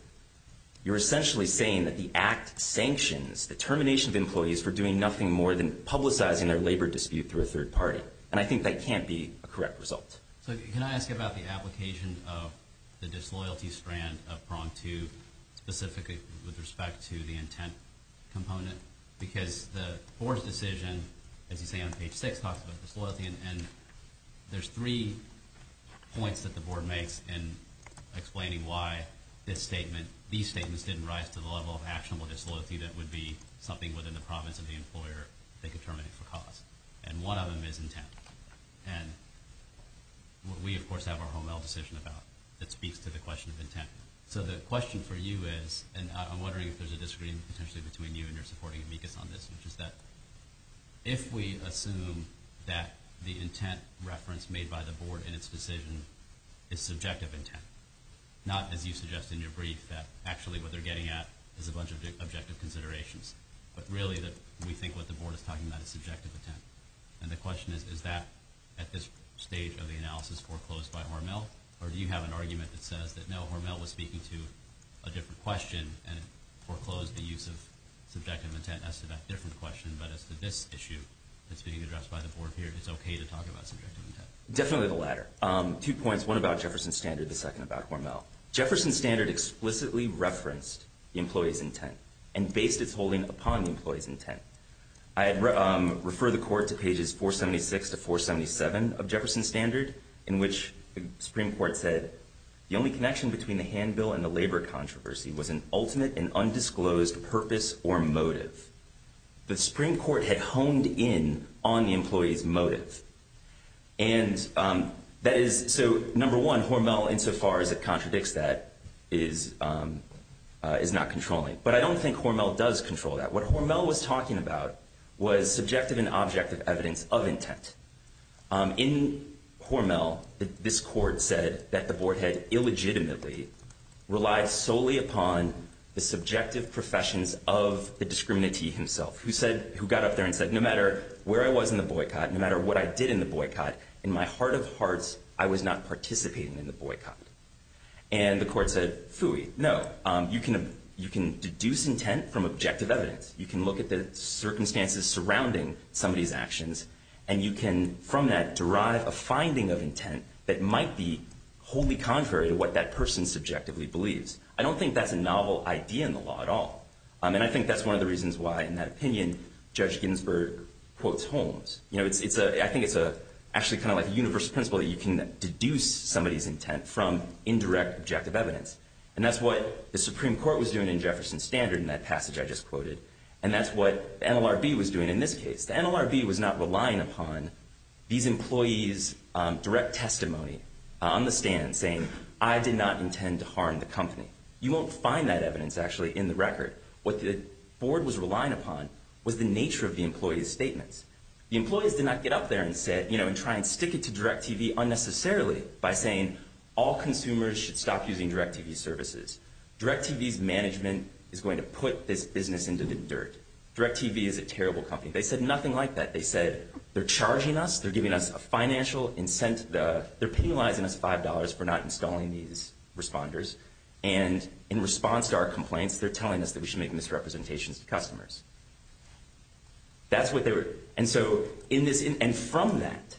you're essentially saying that the act sanctions the termination of employees for doing nothing more than publicizing their labor dispute through a third party. And I think that can't be a correct result. So can I ask you about the application of the disloyalty strand of prong two, specifically with respect to the intent component? Because the board's decision, as you say on page six, talks about disloyalty, and there's three points that the board makes in explaining why these statements didn't rise to the level of actionable disloyalty that would be something within the province of the employer that could terminate it for cause. And one of them is intent. And we, of course, have our HOMEL decision about it that speaks to the question of intent. So the question for you is, and I'm wondering if there's a disagreement potentially between you and your supporting amicus on this, which is that if we assume that the intent reference made by the board in its decision is subjective intent, not as you suggest in your brief that actually what they're getting at is a bunch of objective considerations, but really that we think what the board is talking about is subjective intent. And the question is, is that at this stage of the analysis foreclosed by HOMEL, or do you have an argument that says that no, HOMEL was speaking to a different question and foreclosed the use of subjective intent as to that different question, but as to this issue that's being addressed by the board here, it's okay to talk about subjective intent? Definitely the latter. Two points, one about Jefferson Standard, the second about HOMEL. Jefferson Standard explicitly referenced the employee's intent and based its holding upon the employee's intent. I refer the court to pages 476 to 477 of Jefferson Standard, in which the Supreme Court said, the only connection between the handbill and the labor controversy was an ultimate and undisclosed purpose or motive. The Supreme Court had honed in on the employee's motive. And that is, so number one, HOMEL, insofar as it contradicts that, is not controlling. But I don't think HOMEL does control that. What HOMEL was talking about was subjective and objective evidence of intent. In HOMEL, this court said that the board had illegitimately relied solely upon the subjective professions of the discriminantee himself, who got up there and said, no matter where I was in the boycott, no matter what I did in the boycott, in my heart of hearts, I was not participating in the boycott. And the court said, phooey, no, you can deduce intent from objective evidence. You can look at the circumstances surrounding somebody's actions. And you can, from that, derive a finding of intent that might be wholly contrary to what that person subjectively believes. I don't think that's a novel idea in the law at all. And I think that's one of the reasons why, in that opinion, Judge Ginsburg quotes HOMEL. I think it's actually kind of like a universal principle that you can deduce somebody's intent from indirect objective evidence. And that's what the Supreme Court was doing in Jefferson Standard in that passage I just quoted. And that's what NLRB was doing in this case. The NLRB was not relying upon these employees' direct testimony on the stand saying, I did not intend to harm the company. You won't find that evidence, actually, in the record. What the board was relying upon was the nature of the employees' statements. The employees did not get up there and try and stick it to DirecTV unnecessarily by saying, all consumers should stop using DirecTV services. DirecTV's management is going to put this business into the dirt. DirecTV is a terrible company. They said nothing like that. They said, they're charging us. They're giving us a financial incentive. They're penalizing us $5 for not installing these responders. And in response to our complaints, they're telling us that we should make misrepresentations to customers. That's what they were. And so in this, and from that,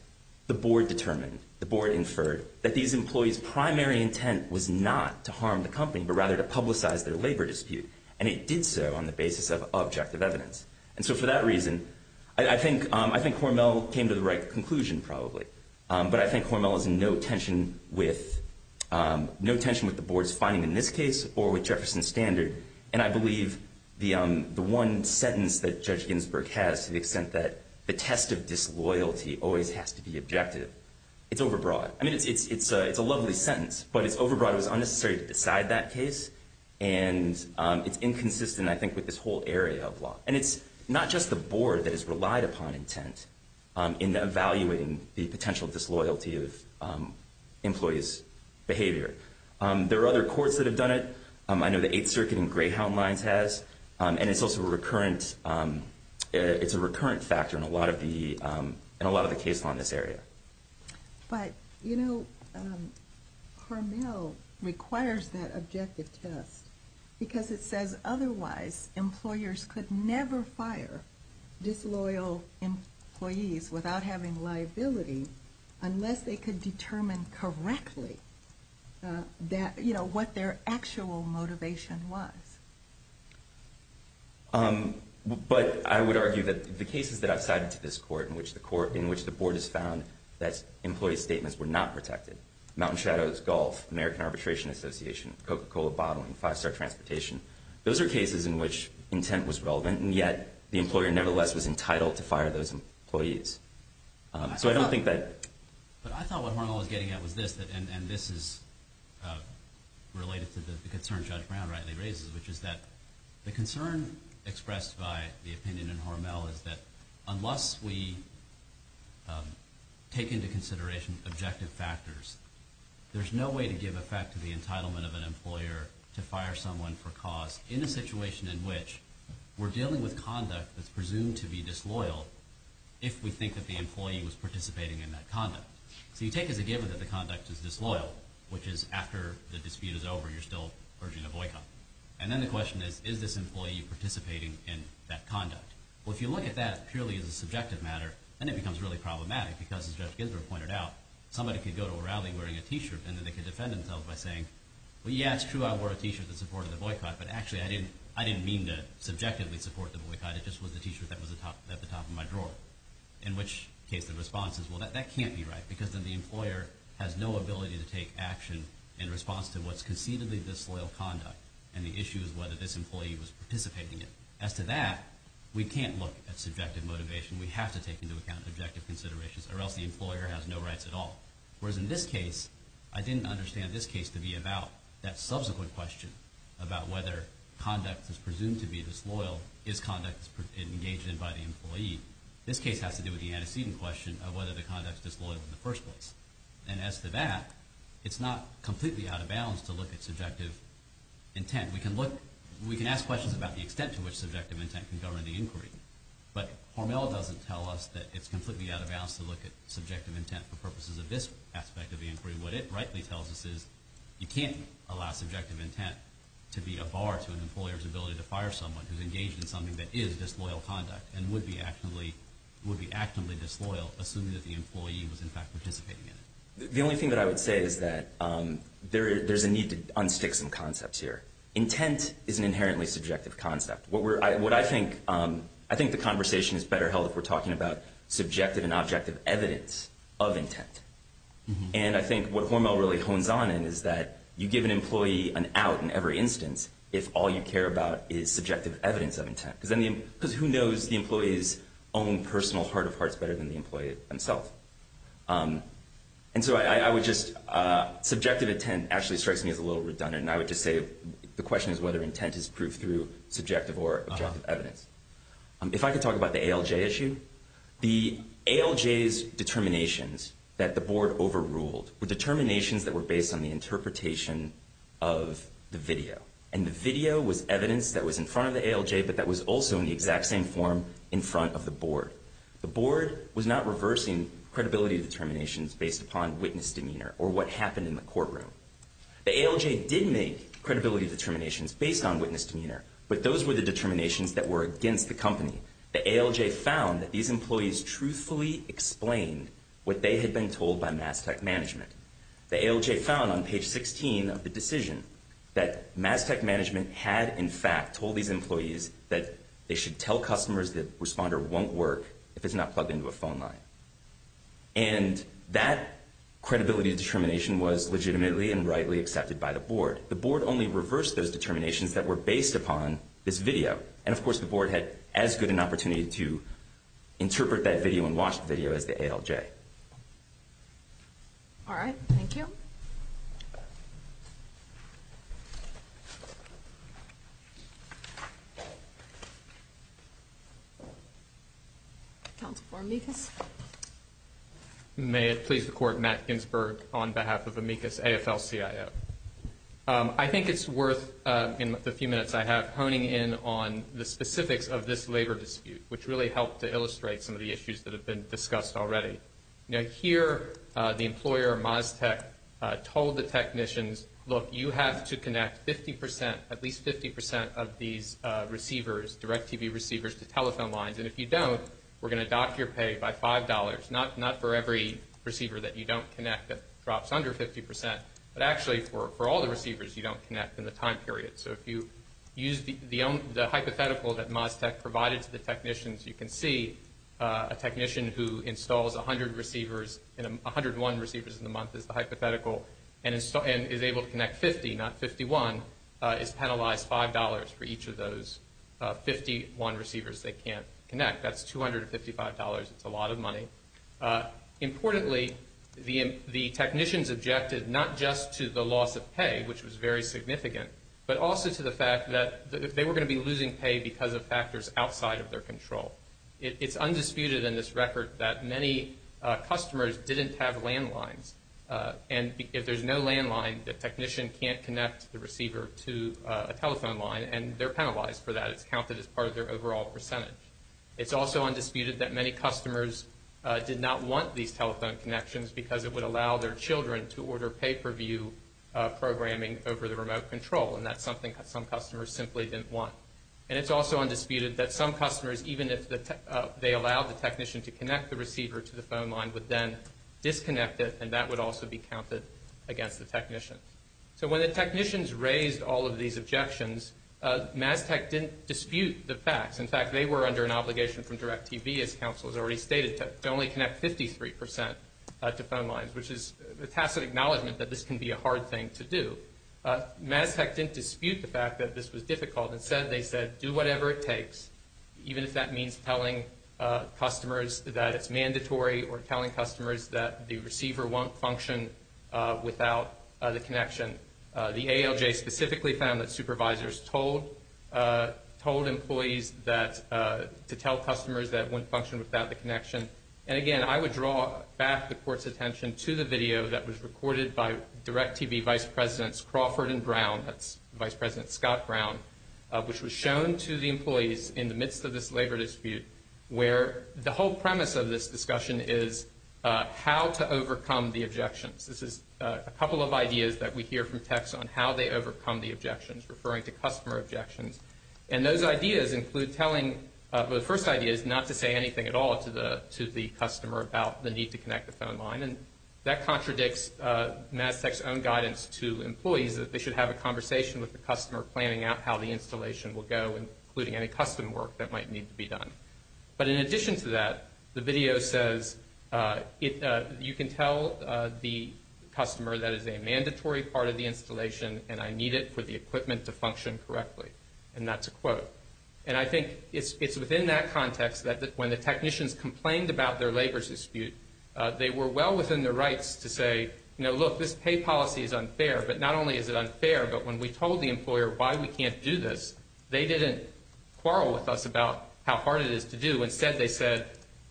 the board determined, the board inferred, that these employees' primary intent was not to harm the company, but rather to publicize their labor dispute. And it did so on the basis of objective evidence. And so for that reason, I think Hormel came to the right conclusion, probably. But I think Hormel is in no tension with, no tension with the board's finding in this case or with Jefferson Standard. And I believe the one sentence that Judge Ginsburg has to the extent that the test of disloyalty always has to be objective, it's overbroad. I mean, it's a lovely sentence, but it's overbroad. It was unnecessary to decide that case. And it's inconsistent, I think, with this whole area of law. And it's not just the board that has relied upon intent in evaluating the potential disloyalty of employees' behavior. There are other courts that have done it. I know the Eighth Circuit and Greyhound Lines has. And it's also a recurrent, it's a recurrent factor in a lot of the cases on this area. But, you know, Hormel requires that objective test because it says otherwise employers could never fire disloyal employees without having liability unless they could determine correctly that, you know, what their actual motivation was. But I would argue that the cases that I've cited to this court in which the board has found that employees' statements were not protected, Mountain Shadows Golf, American Arbitration Association, Coca-Cola Bottling, Five Star Transportation, those are cases in which intent was relevant and yet the employer nevertheless was entitled to fire those employees. So I don't think that... But I thought what Hormel was getting at was this, and this is related to the concern Judge Brown rightly raises, which is that the concern expressed by the opinion in Hormel is that unless we take into consideration objective factors, there's no way to give effect to the entitlement of an employer to fire someone for cause in a situation in which we're dealing with conduct that's presumed to be disloyal if we think that the employee was participating in that conduct. So you take as a given that the conduct is disloyal, which is after the dispute is over you're still urging a boycott. And then the question is, is this employee participating in that conduct? Well, if you look at that purely as a subjective matter, then it becomes really problematic because, as Judge Ginsburg pointed out, somebody could go to a rally wearing a T-shirt and then they could defend themselves by saying, well, yeah, it's true I wore a T-shirt that supported the boycott, but actually I didn't mean to subjectively support the boycott. It just was the T-shirt that was at the top of my drawer. In which case the response is, well, that can't be right because then the employer has no ability to take action in response to what's conceivably disloyal conduct and the issue is whether this employee was participating in it. As to that, we can't look at subjective motivation. We have to take into account objective considerations or else the employer has no rights at all. Whereas in this case, I didn't understand this case to be about that subsequent question about whether conduct that's presumed to be disloyal is conduct that's engaged in by the employee. This case has to do with the antecedent question of whether the conduct is disloyal in the first place. And as to that, it's not completely out of bounds to look at subjective intent. We can ask questions about the extent to which subjective intent can govern the inquiry, but Hormel doesn't tell us that it's completely out of bounds to look at subjective intent for purposes of this aspect of the inquiry. What it rightly tells us is you can't allow subjective intent to be a bar to an employer's ability to fire someone who's engaged in something that is disloyal conduct and would be actively disloyal assuming that the employee was in fact participating in it. The only thing that I would say is that there's a need to unstick some concepts here. Intent is an inherently subjective concept. What I think the conversation is better held if we're talking about subjective and objective evidence of intent. And I think what Hormel really hones on in is that you give an employee an out in every instance if all you care about is subjective evidence of intent. Because who knows the employee's own personal heart of hearts better than the employee himself? And so subjective intent actually strikes me as a little redundant. I would just say the question is whether intent is proved through subjective or objective evidence. If I could talk about the ALJ issue. The ALJ's determinations that the board overruled were determinations that were based on the interpretation of the video. And the video was evidence that was in front of the ALJ but that was also in the exact same form in front of the board. The board was not reversing credibility determinations based upon witness demeanor or what happened in the courtroom. The ALJ did make credibility determinations based on witness demeanor. But those were the determinations that were against the company. The ALJ found that these employees truthfully explained what they had been told by Mass Tech Management. The ALJ found on page 16 of the decision that Mass Tech Management had in fact told these employees that they should tell customers that Responder won't work if it's not plugged into a phone line. And that credibility determination was legitimately and rightly accepted by the board. The board only reversed those determinations that were based upon this video. And of course the board had as good an opportunity to interpret that video and watch the video as the ALJ. All right. Thank you. Thank you. Counsel for Amicus. May it please the court, Matt Ginsberg on behalf of Amicus AFL-CIO. I think it's worth in the few minutes I have honing in on the specifics of this labor dispute which really helped to illustrate some of the issues that have been discussed already. Now here the employer, Mass Tech, told the technicians, look, you have to connect 50 percent, at least 50 percent of these receivers, DirecTV receivers to telephone lines. And if you don't, we're going to dock your pay by $5. Not for every receiver that you don't connect that drops under 50 percent, but actually for all the receivers you don't connect in the time period. So if you use the hypothetical that Mass Tech provided to the technicians, you can see a technician who installs 100 receivers, 101 receivers in the month is the hypothetical and is able to connect 50, not 51, is penalized $5 for each of those 51 receivers they can't connect. That's $255. It's a lot of money. Importantly, the technicians objected not just to the loss of pay, which was very significant, but also to the fact that they were going to be losing pay because of factors outside of their control. It's undisputed in this record that many customers didn't have landlines. And if there's no landline, the technician can't connect the receiver to a telephone line, and they're penalized for that. It's counted as part of their overall percentage. It's also undisputed that many customers did not want these telephone connections because it would allow their children to order pay-per-view programming over the remote control, and that's something that some customers simply didn't want. And it's also undisputed that some customers, even if they allowed the technician to connect the receiver to the phone line, would then disconnect it, and that would also be counted against the technician. So when the technicians raised all of these objections, Mass Tech didn't dispute the facts. In fact, they were under an obligation from DirecTV, as counsel has already stated, to only connect 53% to phone lines, which is a tacit acknowledgment that this can be a hard thing to do. Mass Tech didn't dispute the fact that this was difficult. Instead, they said, do whatever it takes, even if that means telling customers that it's mandatory or telling customers that the receiver won't function without the connection. The ALJ specifically found that supervisors told employees to tell customers that it wouldn't function without the connection. And, again, I would draw back the Court's attention to the video that was recorded by DirecTV Vice Presidents Crawford and Brown, that's Vice President Scott Brown, which was shown to the employees in the midst of this labor dispute, where the whole premise of this discussion is how to overcome the objections. This is a couple of ideas that we hear from techs on how they overcome the objections, referring to customer objections. And those ideas include telling the first idea is not to say anything at all to the customer about the need to connect the phone line. And that contradicts Mass Tech's own guidance to employees that they should have a conversation with the customer, planning out how the installation will go, including any custom work that might need to be done. But in addition to that, the video says you can tell the customer that it's a mandatory part of the installation and I need it for the equipment to function correctly, and that's a quote. And I think it's within that context that when the technicians complained about their labor dispute, they were well within their rights to say, you know, look, this pay policy is unfair, but not only is it unfair, but when we told the employer why we can't do this, they didn't quarrel with us about how hard it is to do. Instead, they said,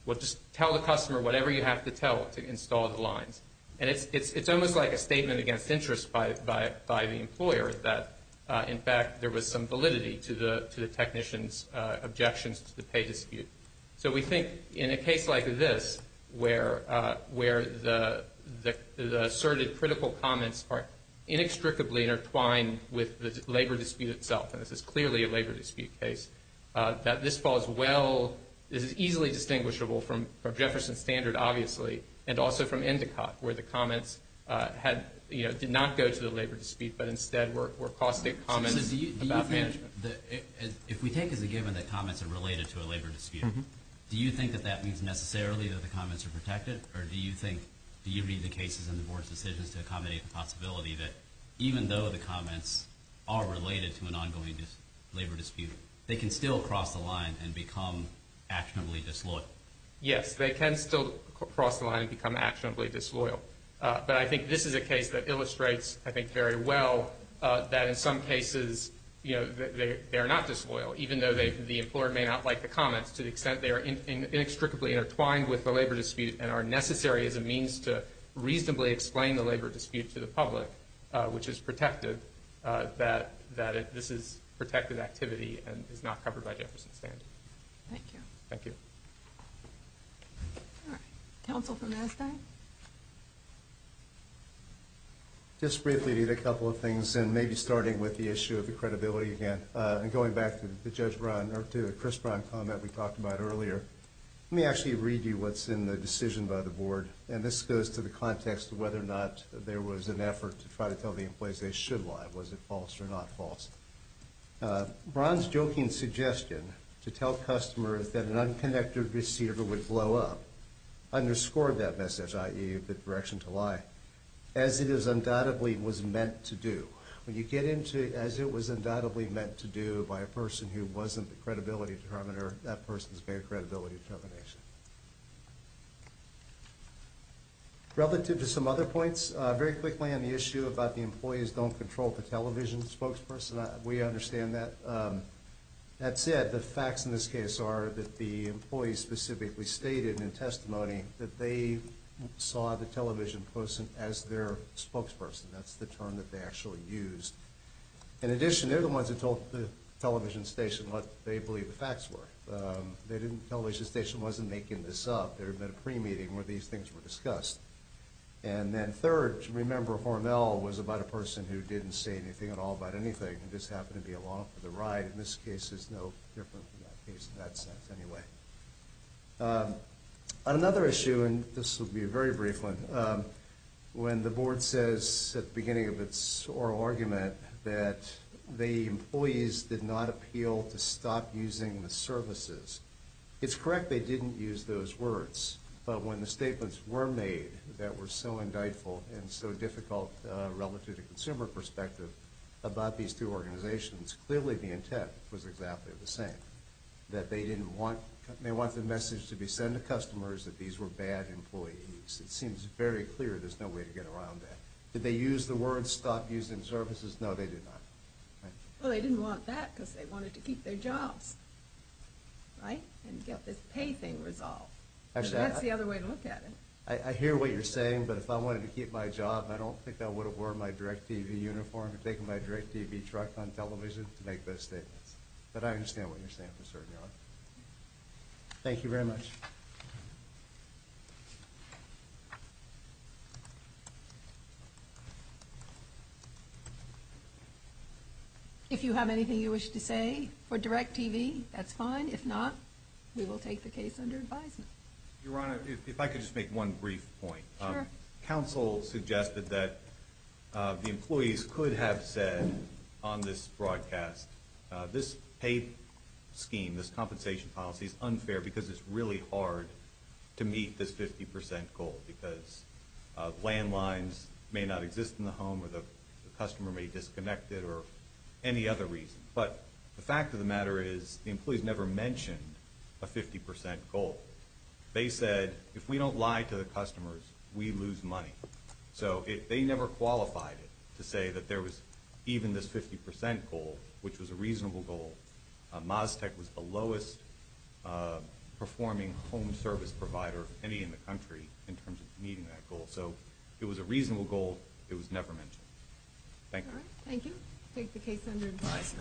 well, just tell the customer whatever you have to tell to install the lines. And it's almost like a statement against interest by the employer that, in fact, there was some validity to the technicians' objections to the pay dispute. So we think in a case like this, where the asserted critical comments are inextricably intertwined with the labor dispute itself, and this is clearly a labor dispute case, that this falls well, this is easily distinguishable from Jefferson Standard, obviously, and also from Endicott, where the comments did not go to the labor dispute, but instead were caustic comments about management. If we take as a given that comments are related to a labor dispute, do you think that that means necessarily that the comments are protected, or do you think, do you read the cases and the board's decisions to accommodate the possibility that, even though the comments are related to an ongoing labor dispute, they can still cross the line and become actionably disloyal? Yes, they can still cross the line and become actionably disloyal. But I think this is a case that illustrates, I think, very well that in some cases they are not disloyal, even though the employer may not like the comments to the extent they are inextricably intertwined with the labor dispute and are necessary as a means to reasonably explain the labor dispute to the public, which is protective, that this is protected activity and is not covered by Jefferson Standard. Thank you. Thank you. All right. Counsel from NASDAQ? Just briefly to get a couple of things, and maybe starting with the issue of the credibility again, and going back to the Chris Brown comment we talked about earlier, let me actually read you what's in the decision by the board, and this goes to the context of whether or not there was an effort to try to tell the employees they should lie. Was it false or not false? Brown's joking suggestion to tell customers that an unconnected receiver would blow up underscored that message, i.e., the direction to lie, as it is undoubtedly was meant to do. When you get into, as it was undoubtedly meant to do by a person who wasn't the credibility determiner, that person's very credibility determination. Relative to some other points, very quickly on the issue about the employees don't control the television spokesperson, we understand that. That said, the facts in this case are that the employees specifically stated in testimony that they saw the television person as their spokesperson. That's the term that they actually used. In addition, they're the ones who told the television station what they believe the facts were. The television station wasn't making this up. Third, remember Hormel was about a person who didn't say anything at all about anything and just happened to be along for the ride. This case is no different from that case in that sense anyway. On another issue, and this will be a very brief one, when the board says at the beginning of its oral argument that the employees did not appeal to stop using the services, it's correct they didn't use those words. But when the statements were made that were so indictful and so difficult relative to consumer perspective about these two organizations, clearly the intent was exactly the same, that they want the message to be send to customers that these were bad employees. It seems very clear there's no way to get around that. Did they use the words stop using services? No, they did not. Well, they didn't want that because they wanted to keep their jobs, right, and get this pay thing resolved. That's the other way to look at it. I hear what you're saying, but if I wanted to keep my job, I don't think I would have worn my DirecTV uniform and taken my DirecTV truck on television to make those statements. But I understand what you're saying. Thank you very much. If you have anything you wish to say for DirecTV, that's fine. If not, we will take the case under advisement. Your Honor, if I could just make one brief point. Sure. Counsel suggested that the employees could have said on this broadcast, this pay scheme, this compensation policy is unfair because it's really hard to meet this 50% goal because landlines may not exist in the home or the customer may disconnect it or any other reason. But the fact of the matter is the employees never mentioned a 50% goal. They said, if we don't lie to the customers, we lose money. So they never qualified it to say that there was even this 50% goal, which was a reasonable goal. Maztec was the lowest performing home service provider, any in the country, in terms of meeting that goal. So it was a reasonable goal. It was never mentioned. Thank you. Thank you. We will take the case under advisement.